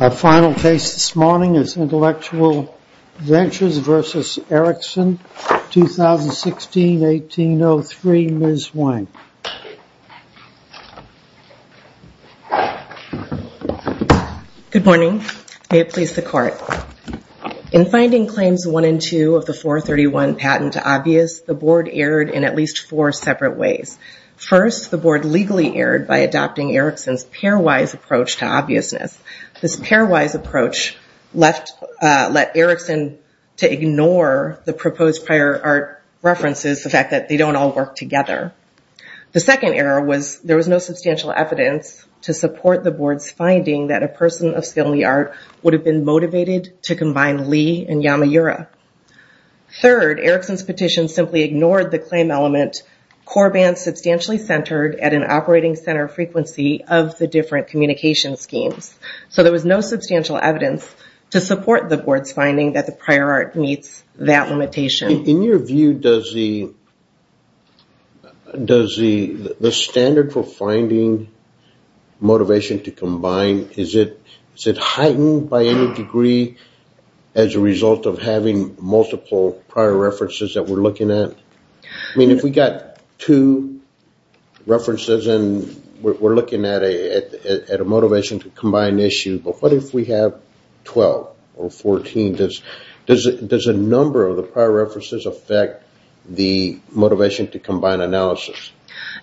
Our final case this morning is Intellectual Ventures v. Ericsson, 2016-18-03. Ms. Wang. Good morning. May it please the Court. In finding Claims 1 and 2 of the 431 patent to obvious, the Board erred in at least four separate ways. First, the Board legally erred by adopting Ericsson's pairwise approach to obviousness. This pairwise approach let Ericsson to ignore the proposed prior art references, the fact that they don't all work together. The second error was there was no substantial evidence to support the Board's finding that a person of skill in the art would have been motivated to combine Lee and Yamaura. Third, Ericsson's petition simply ignored the claim element core band substantially centered at an operating center frequency of the different communication schemes. So there was no substantial evidence to support the Board's finding that the prior art meets that limitation. In your view, does the standard for finding motivation to combine, is it heightened by any degree as a result of having multiple prior references that we're looking at? I mean, if we got two references and we're looking at a motivation to combine issue, but what if we have 12 or 14? Does a number of the prior references affect the motivation to combine analysis?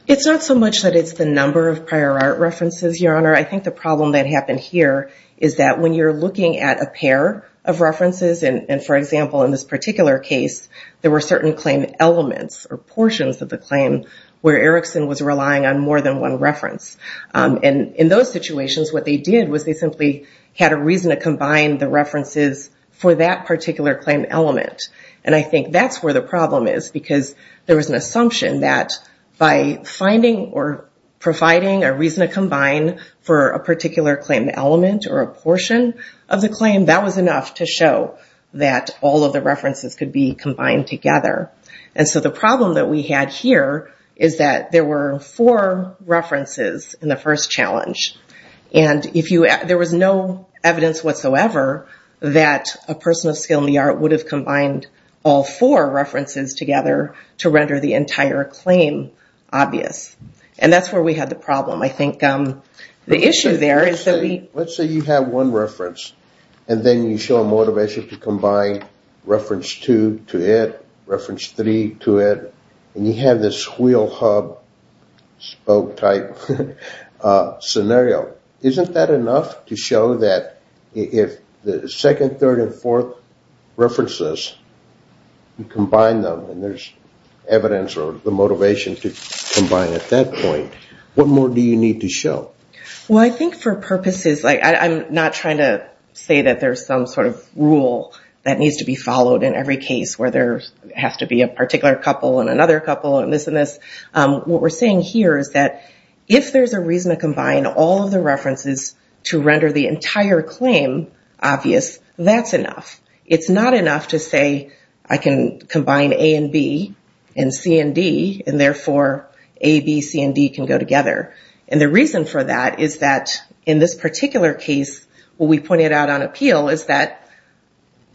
It's not so much that it's the number of prior art references, Your Honor. I think the problem that happened here is that when you're looking at a pair of references, and for example, in this particular case, there were certain claim elements or portions of the claim where Ericsson was relying on more than one reference. And in those situations, what they did was they simply had a reason to combine the references for that particular claim element. And I think that's where the problem is, because there was an assumption that by finding or providing a reason to combine for a particular claim element or a portion of the claim, that was enough to show that all of the references could be combined together. And so the problem that we had here is that there were four references in the first challenge. And there was no evidence whatsoever that a person of skill in the art would have combined all four references together to render the entire claim obvious. And that's where we had the problem. I think the issue there is that we... Let's say you have one reference, and then you show a motivation to combine reference two to it, reference three to it, and you have this wheel hub, spoke type scenario. Isn't that enough to show that if the second, third, and fourth references, you combine them and there's evidence or the motivation to combine at that point, what more do you need to show? Well, I think for purposes... I'm not trying to say that there's some sort of rule that needs to be followed in every case where there has to be a particular couple and another couple and this and this. What we're saying here is that if there's a reason to combine all of the references to render the entire claim obvious, that's enough. It's not enough to say I can combine A and B and C and D, and therefore A, B, C, and D can go together. And the reason for that is that in this particular case, what we pointed out on appeal is that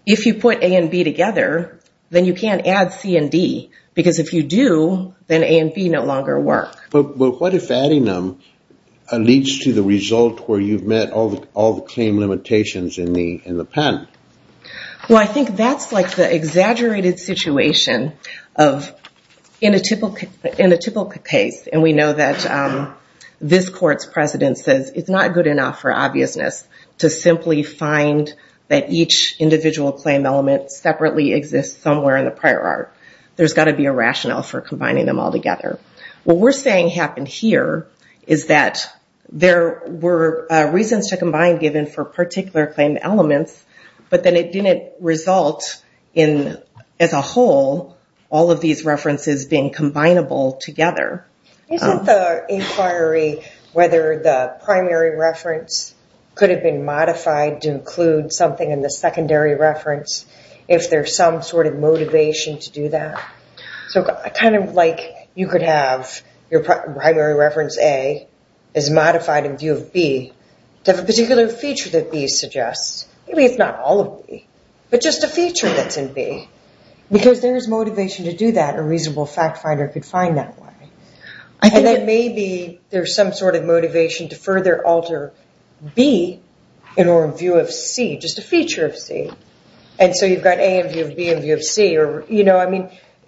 if you put A and B together, then you can't add C and D, because if you do, then A and B no longer work. What if adding them leads to the result where you've met all the claim limitations in the patent? Well, I think that's like the exaggerated situation of... In a typical case, and we know that this court's president says it's not good enough for obviousness to simply find that each individual claim element separately exists somewhere in the prior art. There's got to be a rationale for combining them all together. What we're saying happened here is that there were reasons to combine given for particular claim elements, but then it didn't result in, as a whole, all of these references being combinable together. Isn't the inquiry whether the primary reference could have been modified to include something in the secondary reference, if there's some sort of motivation to do that? So kind of like you could have your primary reference A is modified in view of B, to have a particular feature that B suggests. Maybe it's not all of B, but just a feature that's in B. Because there is motivation to do that. A reasonable fact finder could find that way. And then maybe there's some sort of motivation to further alter B in our view of C, just a feature of C. And so you've got A in view of B in view of C.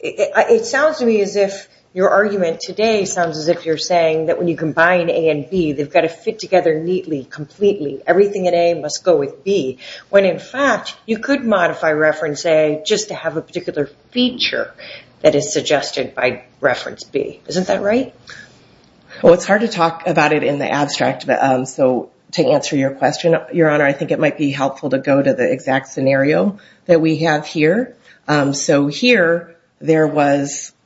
It sounds to me as if your argument today sounds as if you're saying that when you combine A and B, they've got to fit together neatly, completely. Everything in A must go with B. When in fact, you could modify reference A just to have a particular feature that is suggested by reference B. Isn't that right? Well, it's hard to talk about it in the abstract. So to answer your question, Your Honor, I think it might be helpful to go to the exact scenario that we have here. So here, there we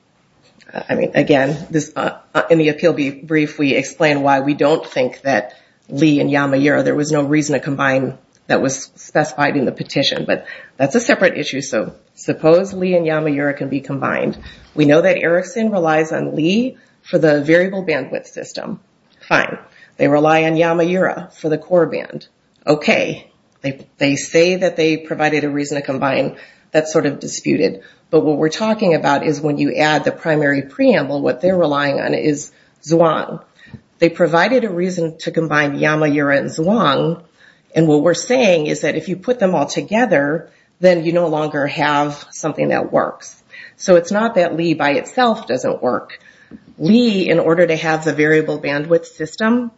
explain why we don't think that Li and Yama-Yura, there was no reason to combine that was specified in the petition. But that's a separate issue. So suppose Li and Yama-Yura can be combined. We know that Erickson relies on Li for the variable bandwidth system. Fine. They rely on Yama-Yura for the core band. Okay. They say that they provided a reason to combine. That's sort of disputed. But what we're talking about is when you add the primary preamble, what they're relying on is Zhuang. They provided a reason to combine Yama-Yura and Zhuang. And what we're saying is that if you put them all together, then you no longer have something that works. So it's not that Li by itself doesn't work. Li, in order to have the variable bandwidth system,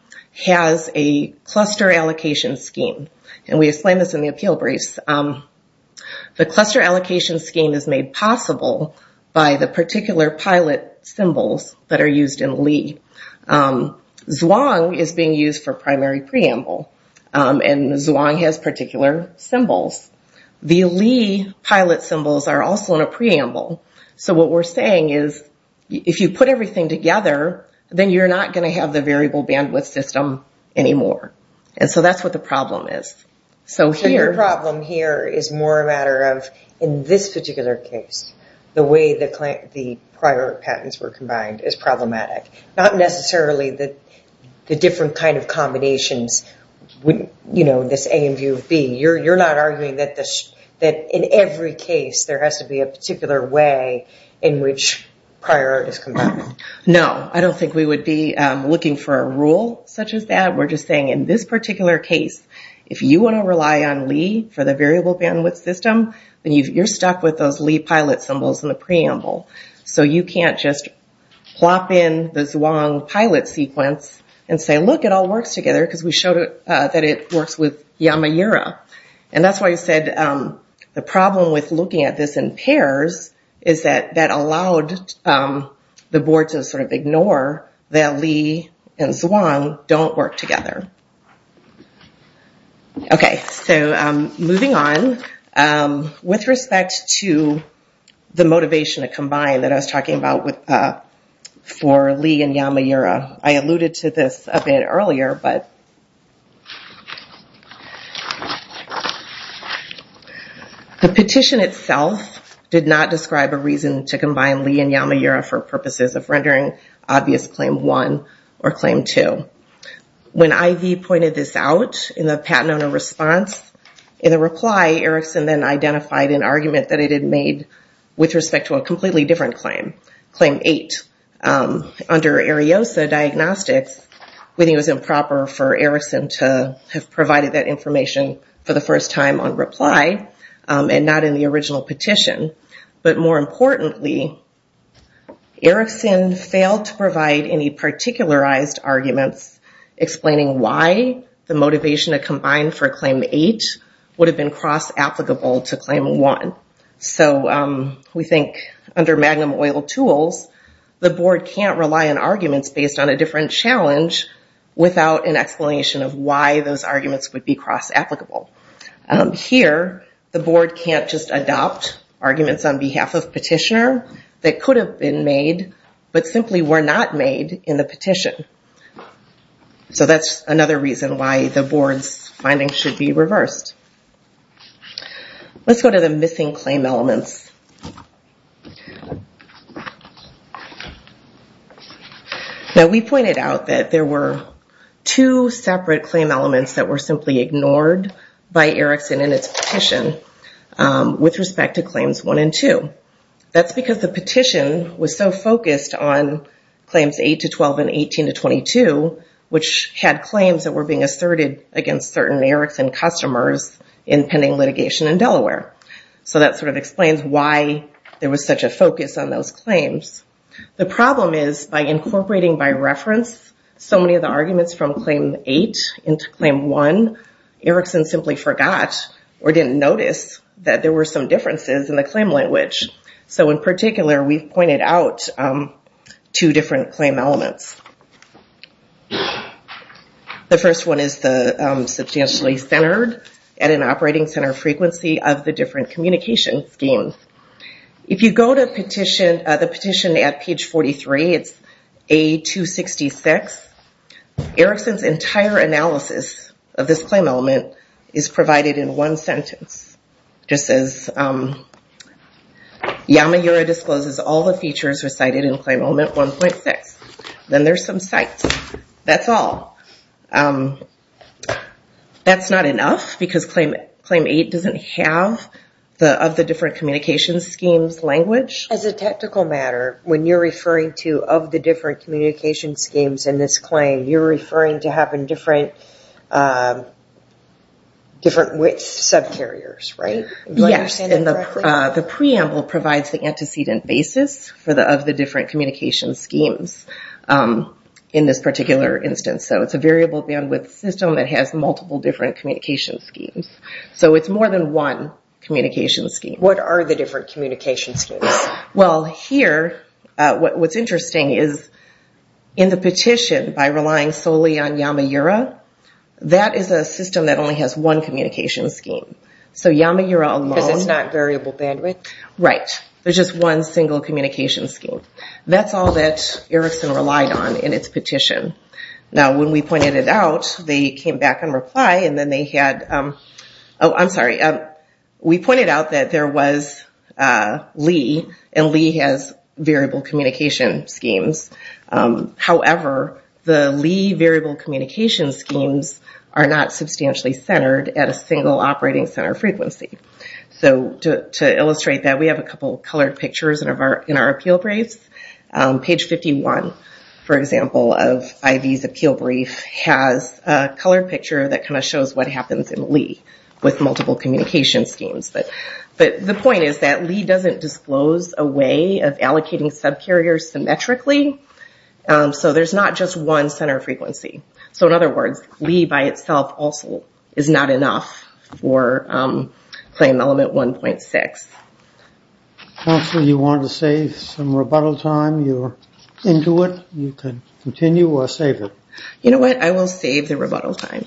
has a cluster allocation scheme. And we explain this in the appeal briefs. The cluster allocation scheme is made possible by the particular pilot symbols that are used in Li. Zhuang is being used for primary preamble. And Zhuang has particular symbols. The Li pilot symbols are also in a preamble. So what we're saying is if you put everything together, then you're not going to have the variable bandwidth system anymore. And so that's what the problem is. So here... Prior art patents were combined. It's problematic. Not necessarily the different kind of combinations. This A in view of B. You're not arguing that in every case there has to be a particular way in which prior art is combined. No. I don't think we would be looking for a rule such as that. We're just saying in this particular case, if you want to rely on Li for the variable bandwidth system, then you're stuck with those Li pilot symbols in the preamble. So you can't just plop in the Zhuang pilot sequence and say, look, it all works together because we showed that it works with Yamaura. And that's why I said the problem with looking at this in pairs is that that allowed the board to sort of ignore that Li and Zhuang don't work together. Okay. So moving on, with respect to the motivation to combine that I was talking about for Li and Yamaura, I alluded to this a bit earlier, but the petition itself did not describe a reason to combine Li and Yamaura for purposes of rendering obvious Claim 1 or Claim 2. When IV pointed this out in the Patanona response in a reply, Erickson then identified an argument that it had made with respect to a completely different claim, Claim 8. Under Ariosa Diagnostics, we think it was improper for Erickson to have provided that information for the first time on reply and not in the original petition. But more importantly, Erickson failed to provide any particularized arguments explaining why the motivation to combine for Claim 8 would have been cross-applicable to Claim 1. So we think under Magnum Oil Tools, the board can't rely on arguments based on a different challenge without an explanation of why those arguments would be cross-applicable. Here, the board can't just adopt arguments on behalf of petitioner that could have been made but simply were not made in the petition. So that's another reason why the board's findings should be reversed. Let's go to the missing claim elements. Now we pointed out that there were two separate claim elements that were simply ignored by Erickson in its petition with respect to Claims 1 and 2. That's because the petition was so focused on Claims 8 to 12 and 18 to 22, which had claims that were being asserted against certain Erickson customers in pending litigation in Delaware. So that sort of explains why there was such a focus on those claims. The problem is by incorporating by reference so many of the arguments from Claim 8 into Claim 1, Erickson simply forgot or didn't notice that there were some differences in the claim language. So in particular, we've pointed out two different claim elements. The first one is the substantially centered at an operating center frequency of the different communication schemes. If you go to the petition at page 43, it's A266, Erickson's entire analysis of this claim element is provided in one sentence. Just says, Yamaura discloses all the features recited in Claim Element 1.6. Then there's some cites. That's all. That's not enough because Claim 8 doesn't have the of the different communication schemes language. As a technical matter, when you're referring to of the different communication schemes in this claim, you're referring to having different subcarriers, right? Do I understand that correctly? The preamble provides the antecedent basis for the of the different communication schemes in this particular instance. So it's a variable bandwidth system that has multiple different communication schemes. So it's more than one communication scheme. What are the different communication schemes? Well here, what's interesting is in the petition, by relying solely on Yamaura, that is a system that only has one communication scheme. So Yamaura alone... Because it's not variable bandwidth? Right. There's just one single communication scheme. That's all that Erickson relied on in its petition. Now when we pointed it out, they came back in reply and then they had... Oh, I'm sorry. We pointed out that there was Lee and Lee has variable communication schemes. However, the Lee variable communication schemes are not substantially centered at a single operating center frequency. So to illustrate that, we have a couple of colored pictures in our appeal briefs. Page 51, for example, of IV's appeal brief has a colored picture that kind of shows what happens in Lee with multiple communication schemes. But the point is that Lee doesn't disclose a way of allocating subcarriers symmetrically. So there's not just one center frequency. So in other words, Lee by itself also is not enough for claim element 1.6. Counselor, you wanted to save some rebuttal time. You're into it. You can continue or save it. You know what? I will save the rebuttal time.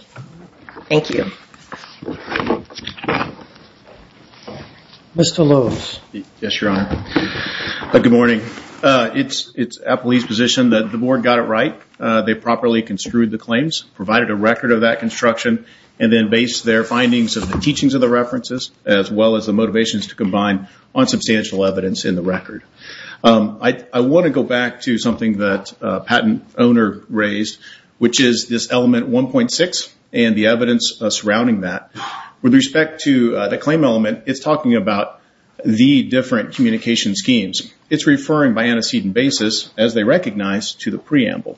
Thank you. Mr. Lowe. Yes, Your Honor. Good morning. It's at Lee's position that the board got it right. They properly construed the claims, provided a record of that construction, and then based their findings of the teachings of the references as well as the motivations to combine on substantial evidence in the record. I want to go back to something that a patent owner raised, which is this element 1.6 and the evidence surrounding that. With respect to the claim element, it's talking about the different communication schemes. It's referring by antecedent basis, as they recognize, to the preamble.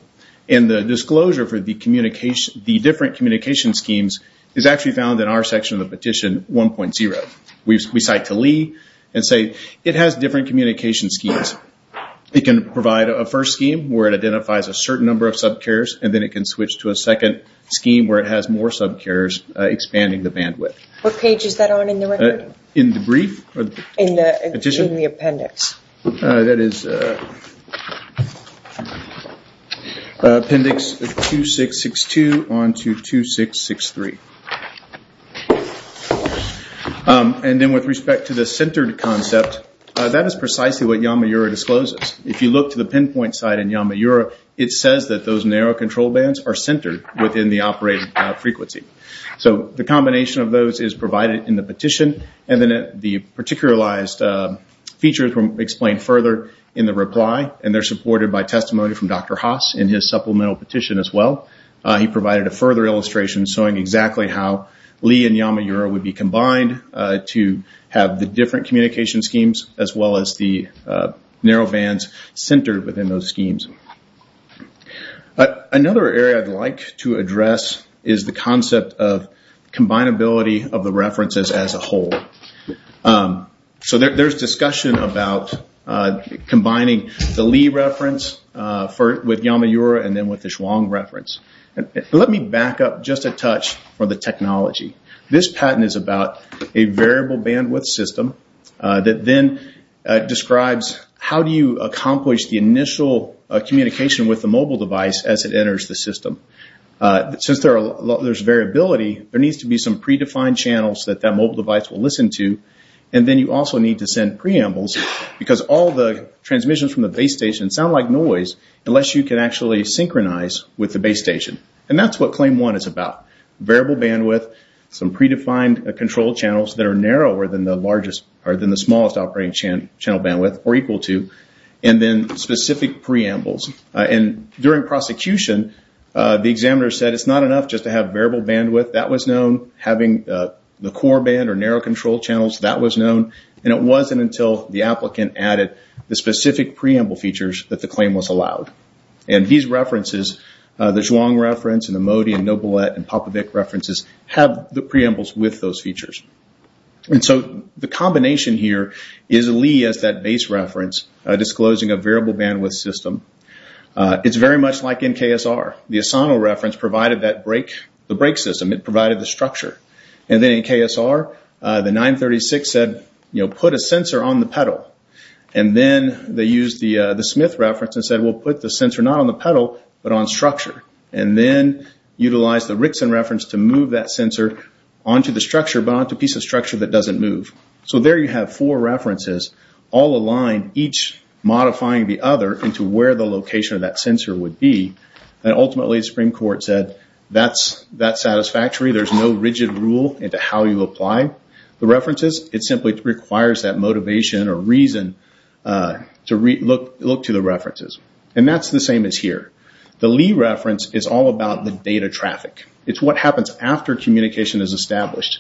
And the disclosure for the different communication schemes is actually found in our section of the petition 1.0. We cite to Lee and say it has different communication schemes. It can provide a first scheme where it identifies a certain number of subcarriers and then it can switch to a second scheme where it has more subcarriers expanding the bandwidth. What page is that on in the record? In the brief? In the appendix. That is appendix 2662 on to 2663. With respect to the centered concept, that is precisely what Yamaura discloses. If you look to the pinpoint side in Yamaura, it says that those narrow control bands are centered within the operating frequency. The combination of those is provided in the petition and then the particularized features were explained further in the reply and they're supported by testimony from Dr. Haas in his supplemental petition as well. He provided a further illustration showing exactly how Lee and Yamaura would be combined to have the different communication schemes as well as the narrow bands centered within those schemes. Another area I'd like to address is the concept of combinability of the references as a whole. There's discussion about combining the Lee reference with Yamaura and then with the Chuang reference. Let me back up just a touch for the technology. This patent is about a variable bandwidth system that then describes how do you accomplish the initial communication with the mobile device as it enters the system. Since there's variability, there needs to be some predefined channels that that mobile device will listen to and then you also need to send preambles because all the transmissions from the base station sound like noise unless you can actually synchronize with the base station. That's what Claim 1 is about. Variable bandwidth is smaller than the smallest operating channel bandwidth or equal to and then specific preambles. During prosecution, the examiner said it's not enough just to have variable bandwidth. That was known. Having the core band or narrow control channels, that was known. It wasn't until the applicant added the specific preamble features that the claim was allowed. These references, the Chuang reference and the Modi and Nobilet and Popovic references have the preambles with those features. The combination here is Lee as that base reference disclosing a variable bandwidth system. It's very much like in KSR. The Asano reference provided the brake system. It provided the structure. Then in KSR, the 936 said put a sensor on the pedal. Then they used the Smith reference and said we'll put the sensor not on the pedal but on structure. Then utilize the Rickson reference to move that sensor onto the structure but onto a piece of structure that doesn't move. There you have four references all aligned each modifying the other into where the location of that sensor would be. Ultimately, the Supreme Court said that's satisfactory. There's no rigid rule into how you apply the references. It simply requires that motivation or reason to look to the references. That's the same as here. The Lee reference is all about the data traffic. It's what happens after communication is established.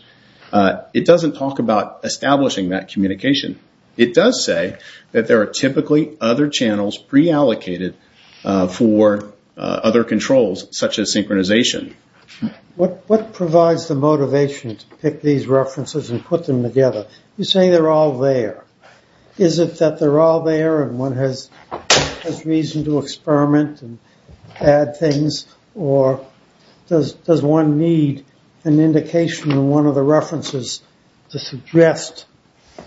It doesn't talk about establishing that communication. It does say that there are typically other channels preallocated for other controls such as synchronization. What provides the motivation to pick these references and put them together? You say they're all there. Is it that they're all there and one has reason to experiment and add things or does one need an indication in one of the references to suggest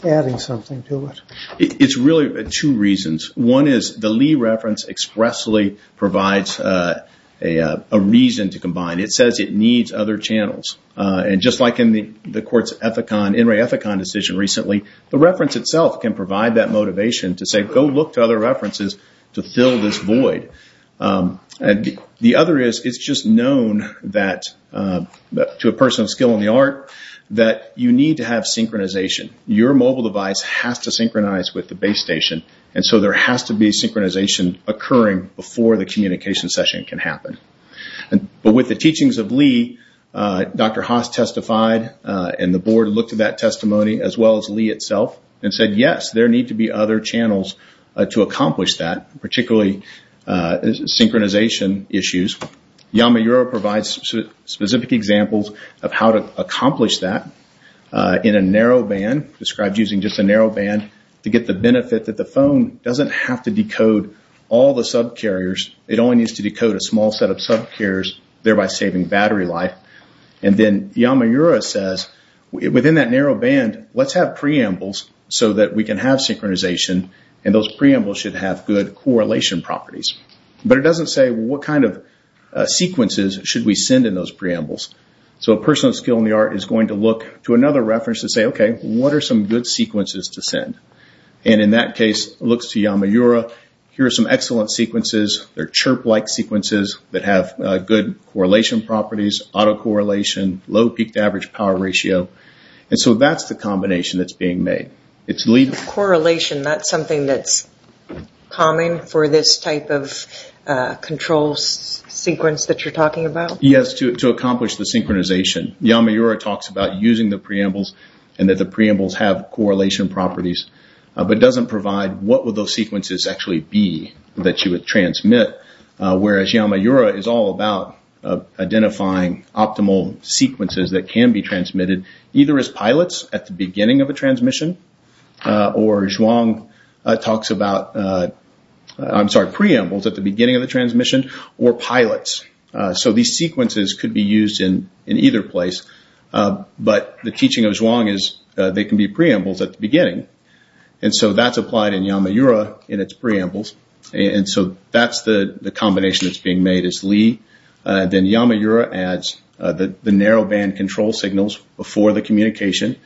adding something to it? It's really two reasons. One is the Lee reference expressly provides a reason to combine. It was the court's Enray Ethicon decision recently. The reference itself can provide that motivation to say go look to other references to fill this void. The other is it's just known to a person of skill in the art that you need to have synchronization. Your mobile device has to synchronize with the base station. There has to be synchronization occurring before the communication session can happen. With the teachings of Lee, Dr. Haas testified and the board looked at that testimony as well as Lee itself and said yes, there need to be other channels to accomplish that, particularly synchronization issues. Yamaura provides specific examples of how to accomplish that in a narrow band, described using just a narrow band, to get the benefit that the phone doesn't have to decode all the subcarriers. It only needs to decode a small set of subcarriers, thereby saving battery life. And then Yamaura says within that narrow band, let's have preambles so that we can have synchronization and those preambles should have good correlation properties. But it doesn't say what kind of sequences should we send in those preambles. So a person of skill in the art is going to look to another reference and say okay, what are some good sequences, chirp-like sequences that have good correlation properties, auto-correlation, low peak-to-average power ratio, and so that's the combination that's being made. Correlation, that's something that's common for this type of control sequence that you're talking about? Yes, to accomplish the synchronization. Yamaura talks about using the preambles and that the preambles have correlation properties, but doesn't provide what would those sequences actually be that you would transmit, whereas Yamaura is all about identifying optimal sequences that can be transmitted, either as pilots at the beginning of a transmission, or Zhuang talks about, I'm sorry, preambles at the beginning of the transmission, or pilots. So these sequences could be used in either place, but the teaching of Zhuang is they can be preambles at the beginning of the transmission, so that's preambles, and so that's the combination that's being made is Li, then Yamaura adds the narrow band control signals before the communication,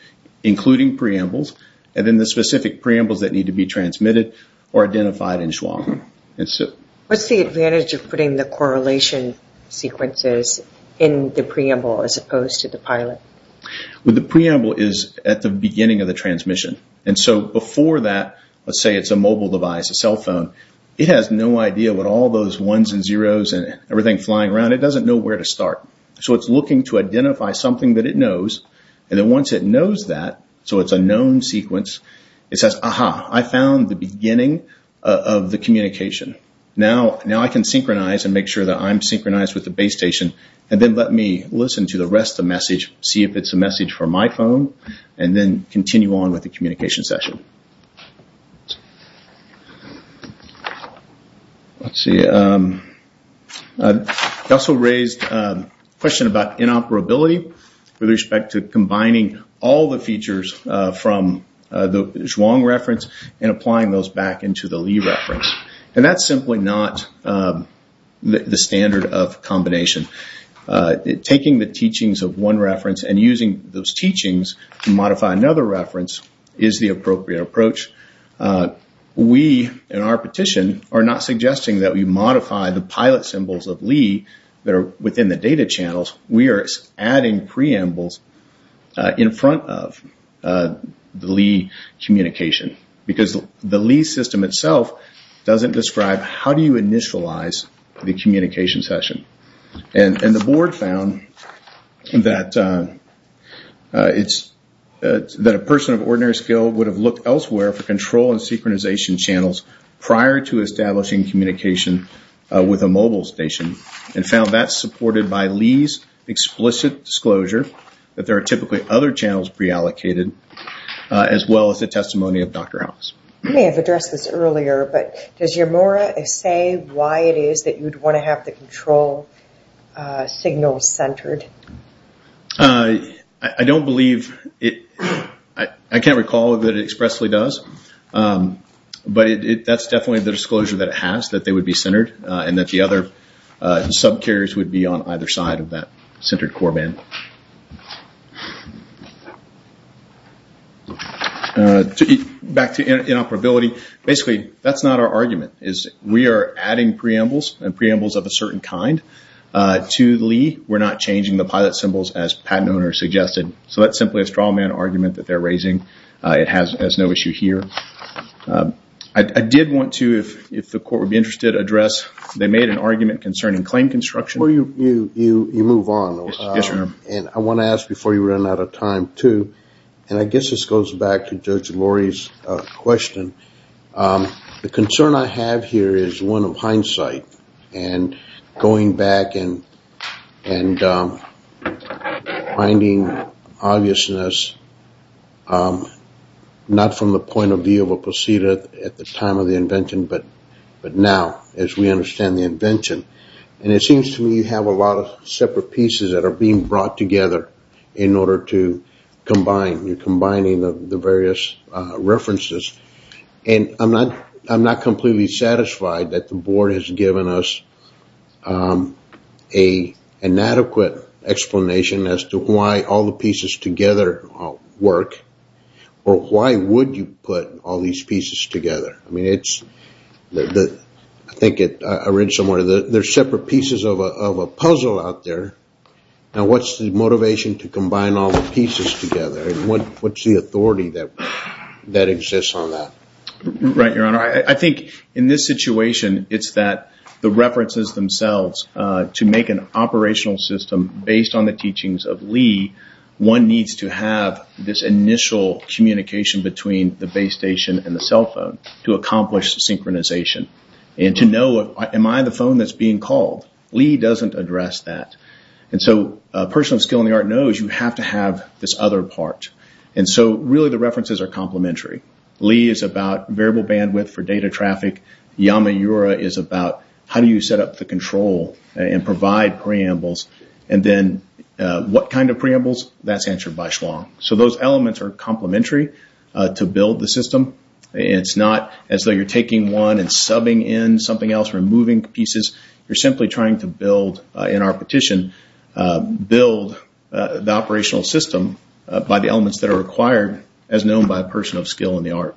including preambles, and then the specific preambles that need to be transmitted are identified in Zhuang. What's the advantage of putting the correlation sequences in the preamble as opposed to the pilot? The preamble is at the beginning of the transmission, and so before that, let's say it's a mobile device, a cell phone, it has no idea what all those ones and zeros and everything flying around, it doesn't know where to start, so it's looking to identify something that it knows, and then once it knows that, so it's a known sequence, it says, aha, I found the beginning of the communication, now I can synchronize and make sure that I'm synchronized with the base station, and then let me listen to the rest of the message, see if it's a good one. Let's see, I also raised a question about inoperability with respect to combining all the features from the Zhuang reference and applying those back into the Li reference, and that's simply not the standard of combination. Taking the teachings of one reference and using those teachings to modify another reference is the appropriate approach. We in our petition are not suggesting that we modify the pilot symbols of Li that are within the data channels, we are adding preambles in front of the Li communication, because the Li system itself doesn't describe how do you initialize the communication session, and the board found that a person of ordinary skill would have looked elsewhere for control and synchronization channels prior to establishing communication with a mobile station, and found that supported by Li's explicit disclosure that there are typically other channels preallocated, as well as the testimony of Dr. House. You may have addressed this earlier, but does your mora say why it is that you would want to have the control signals centered? I don't believe, I can't recall that it expressly does, but that's definitely the disclosure that it has, that they would be centered, and that the other subcarriers would be on either side of that centered core band. Back to inoperability, basically that's not our argument. We are adding preambles, and preambles of a certain kind, to Li. We're not changing the pilot symbols as patent owners suggested, so that's simply a straw man argument that they're raising. It has no issue here. I did want to, if the court would be interested, address, they made an argument concerning claim construction. You move on, and I want to ask before you run out of time too, and I guess this goes back to Judge Lori's question, the concern I have here is one of hindsight, and going back and finding obviousness, not from the point of view of a procedure at the time of the invention, but now, as we understand the invention. It seems to me you have a lot of separate pieces that are being brought together in the various references, and I'm not completely satisfied that the board has given us an adequate explanation as to why all the pieces together work, or why would you put all these pieces together? I think I read somewhere that there are separate pieces of a puzzle out there, and what's the authority that exists on that? Right, Your Honor. I think in this situation, it's that the references themselves to make an operational system based on the teachings of Lee, one needs to have this initial communication between the base station and the cell phone to accomplish synchronization, and to know, am I the phone that's being called? Lee doesn't address that, and so a person of skill in the art knows you have to have this other part, and so really the references are complementary. Lee is about variable bandwidth for data traffic, Yamaura is about how do you set up the control and provide preambles, and then what kind of preambles, that's answered by Hsuang. So those elements are complementary to build the system. It's not as though you're taking one and subbing in something else, removing pieces. You're simply trying to build, in our petition, build the operational system by the elements that are required, as known by a person of skill in the art.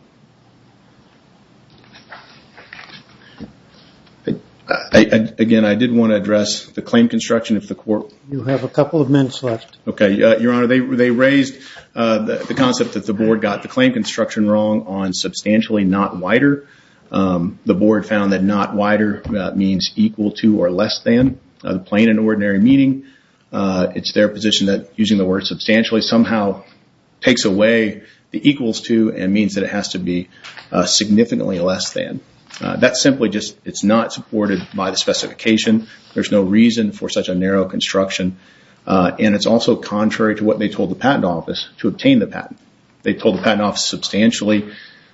Again, I did want to address the claim construction of the court. You have a couple of minutes left. Okay, Your Honor. They raised the concept that the board got the claim construction wrong on substantially not wider. The board found that not wider means equal to or less than, plain and ordinary meaning. It's their position that using the word substantially somehow takes away the equals to and means that it has to be significantly less than. That's simply just, it's not supported by the specification. There's no reason for such a narrow construction, and it's also contrary to what they told the patent office to obtain the patent. They told the patent office substantially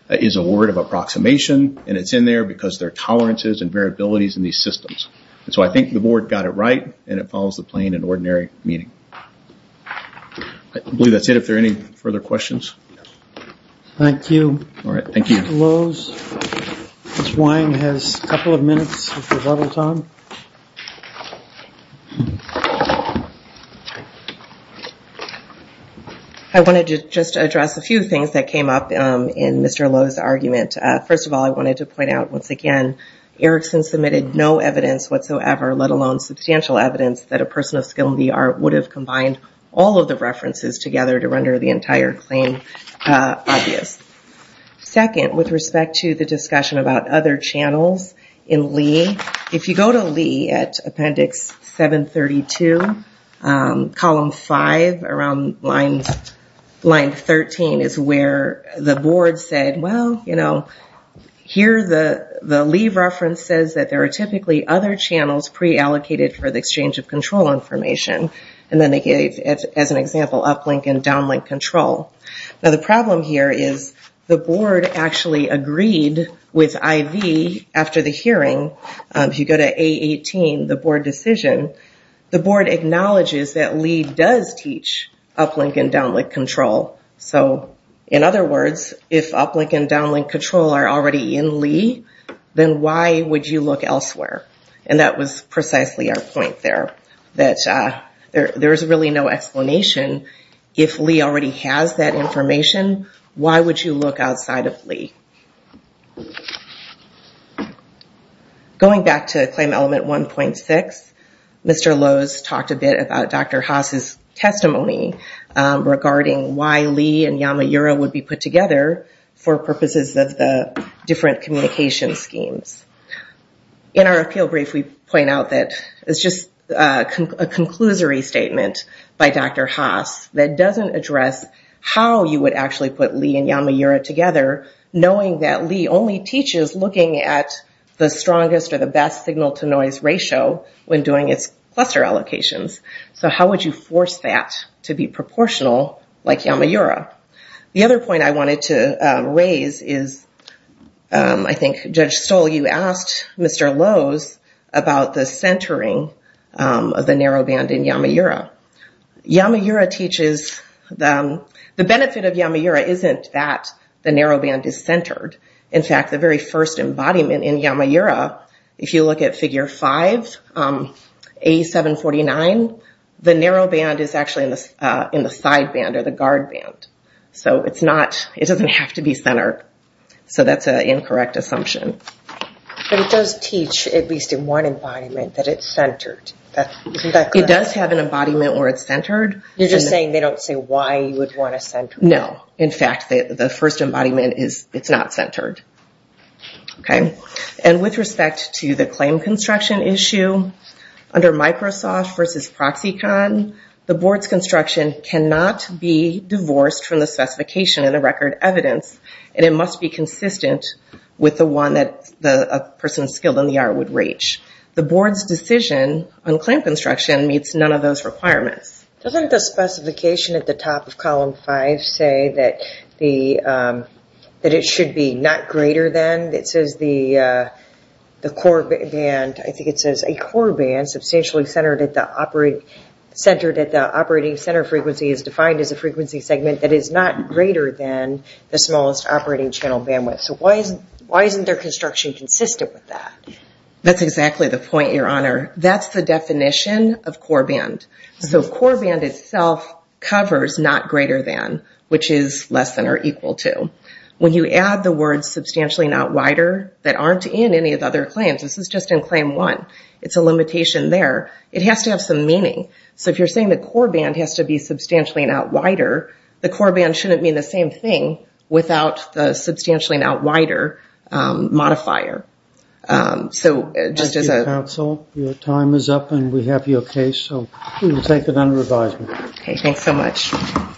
is a word of approximation, and it's in there because there are tolerances and variabilities in these systems. So I think the board got it right, and it follows the plain and ordinary meaning. I believe that's it, if there are any further questions. Thank you. All right, thank you. Mr. Lowe's. Ms. Wine has a couple of minutes of rebuttal time. I wanted to just address a few things that came up in Mr. Lowe's argument. First of all, I wanted to point out once again, Erickson submitted no evidence whatsoever, let alone substantial evidence that a person of skill in the art would have combined all of the references together to render the entire claim obvious. Second, with respect to the discussion about other channels in Lee. If you go to Lee at appendix 732, column five around line 13 is where the board said, well, here the Lee reference says that there are typically other channels pre-allocated for the exchange of control information, and then they gave, as an example, uplink and downlink control. Now, the problem here is the board actually agreed with IV after the hearing, if you go to A18, the board decision, the board acknowledges that Lee does teach uplink and downlink control. In other words, if uplink and downlink control are already in Lee, then why would you look elsewhere? That was precisely our point there, that there is really no explanation if Lee already has that information, why would you look outside of Lee? Going back to claim element 1.6, Mr. Lowe's talked a bit about Dr. Haas' testimony regarding why Lee and Yamayura would be put together for purposes of the different communication schemes. In our appeal brief, we point out that it's just a conclusory statement by Dr. Haas that doesn't address how you would actually put Lee and Yamayura together, knowing that Lee only teaches looking at the strongest or the best signal-to-noise ratio when doing its cluster allocations. How would you force that to be proportional like Yamayura? The other point I wanted to raise is, I think, Judge Stoll, you asked Mr. Lowe's about the centering of the narrow band in Yamayura. The benefit of Yamayura isn't that the narrow band is centered. In fact, the very first embodiment in Yamayura, if you look at figure 5, A749, the narrow band is actually in the side band or the guard band. It doesn't have to be centered, so that's an incorrect assumption. But it does teach, at least in one embodiment, that it's centered, isn't that correct? It does have an embodiment where it's centered. You're just saying they don't say why you would want to center it? No. In fact, the first embodiment, it's not centered. With respect to the claim construction issue, under Microsoft versus Proxicon, the board's construction cannot be divorced from the specification in the record evidence, and it must be consistent with the one that a person skilled in the art would reach. The board's decision on claim construction meets none of those requirements. Doesn't the specification at the top of column 5 say that it should be not greater than, it says the core band, I think it says a core band, substantially centered at the operating center frequency is defined as a frequency segment that is not greater than the smallest operating channel bandwidth. So why isn't their construction consistent with that? That's exactly the point, your honor. That's the definition of core band. So core band itself covers not greater than, which is less than or equal to. When you add the words substantially not wider that aren't in any of the other claims, this is just in claim 1, it's a limitation there, it has to have some meaning. So if you're saying the core band has to be substantially not wider, the core band shouldn't mean the same thing without the substantially not wider modifier. So just as a- Thank you, counsel. Your time is up and we have your case, so we will take it under advisement. Okay, thanks so much.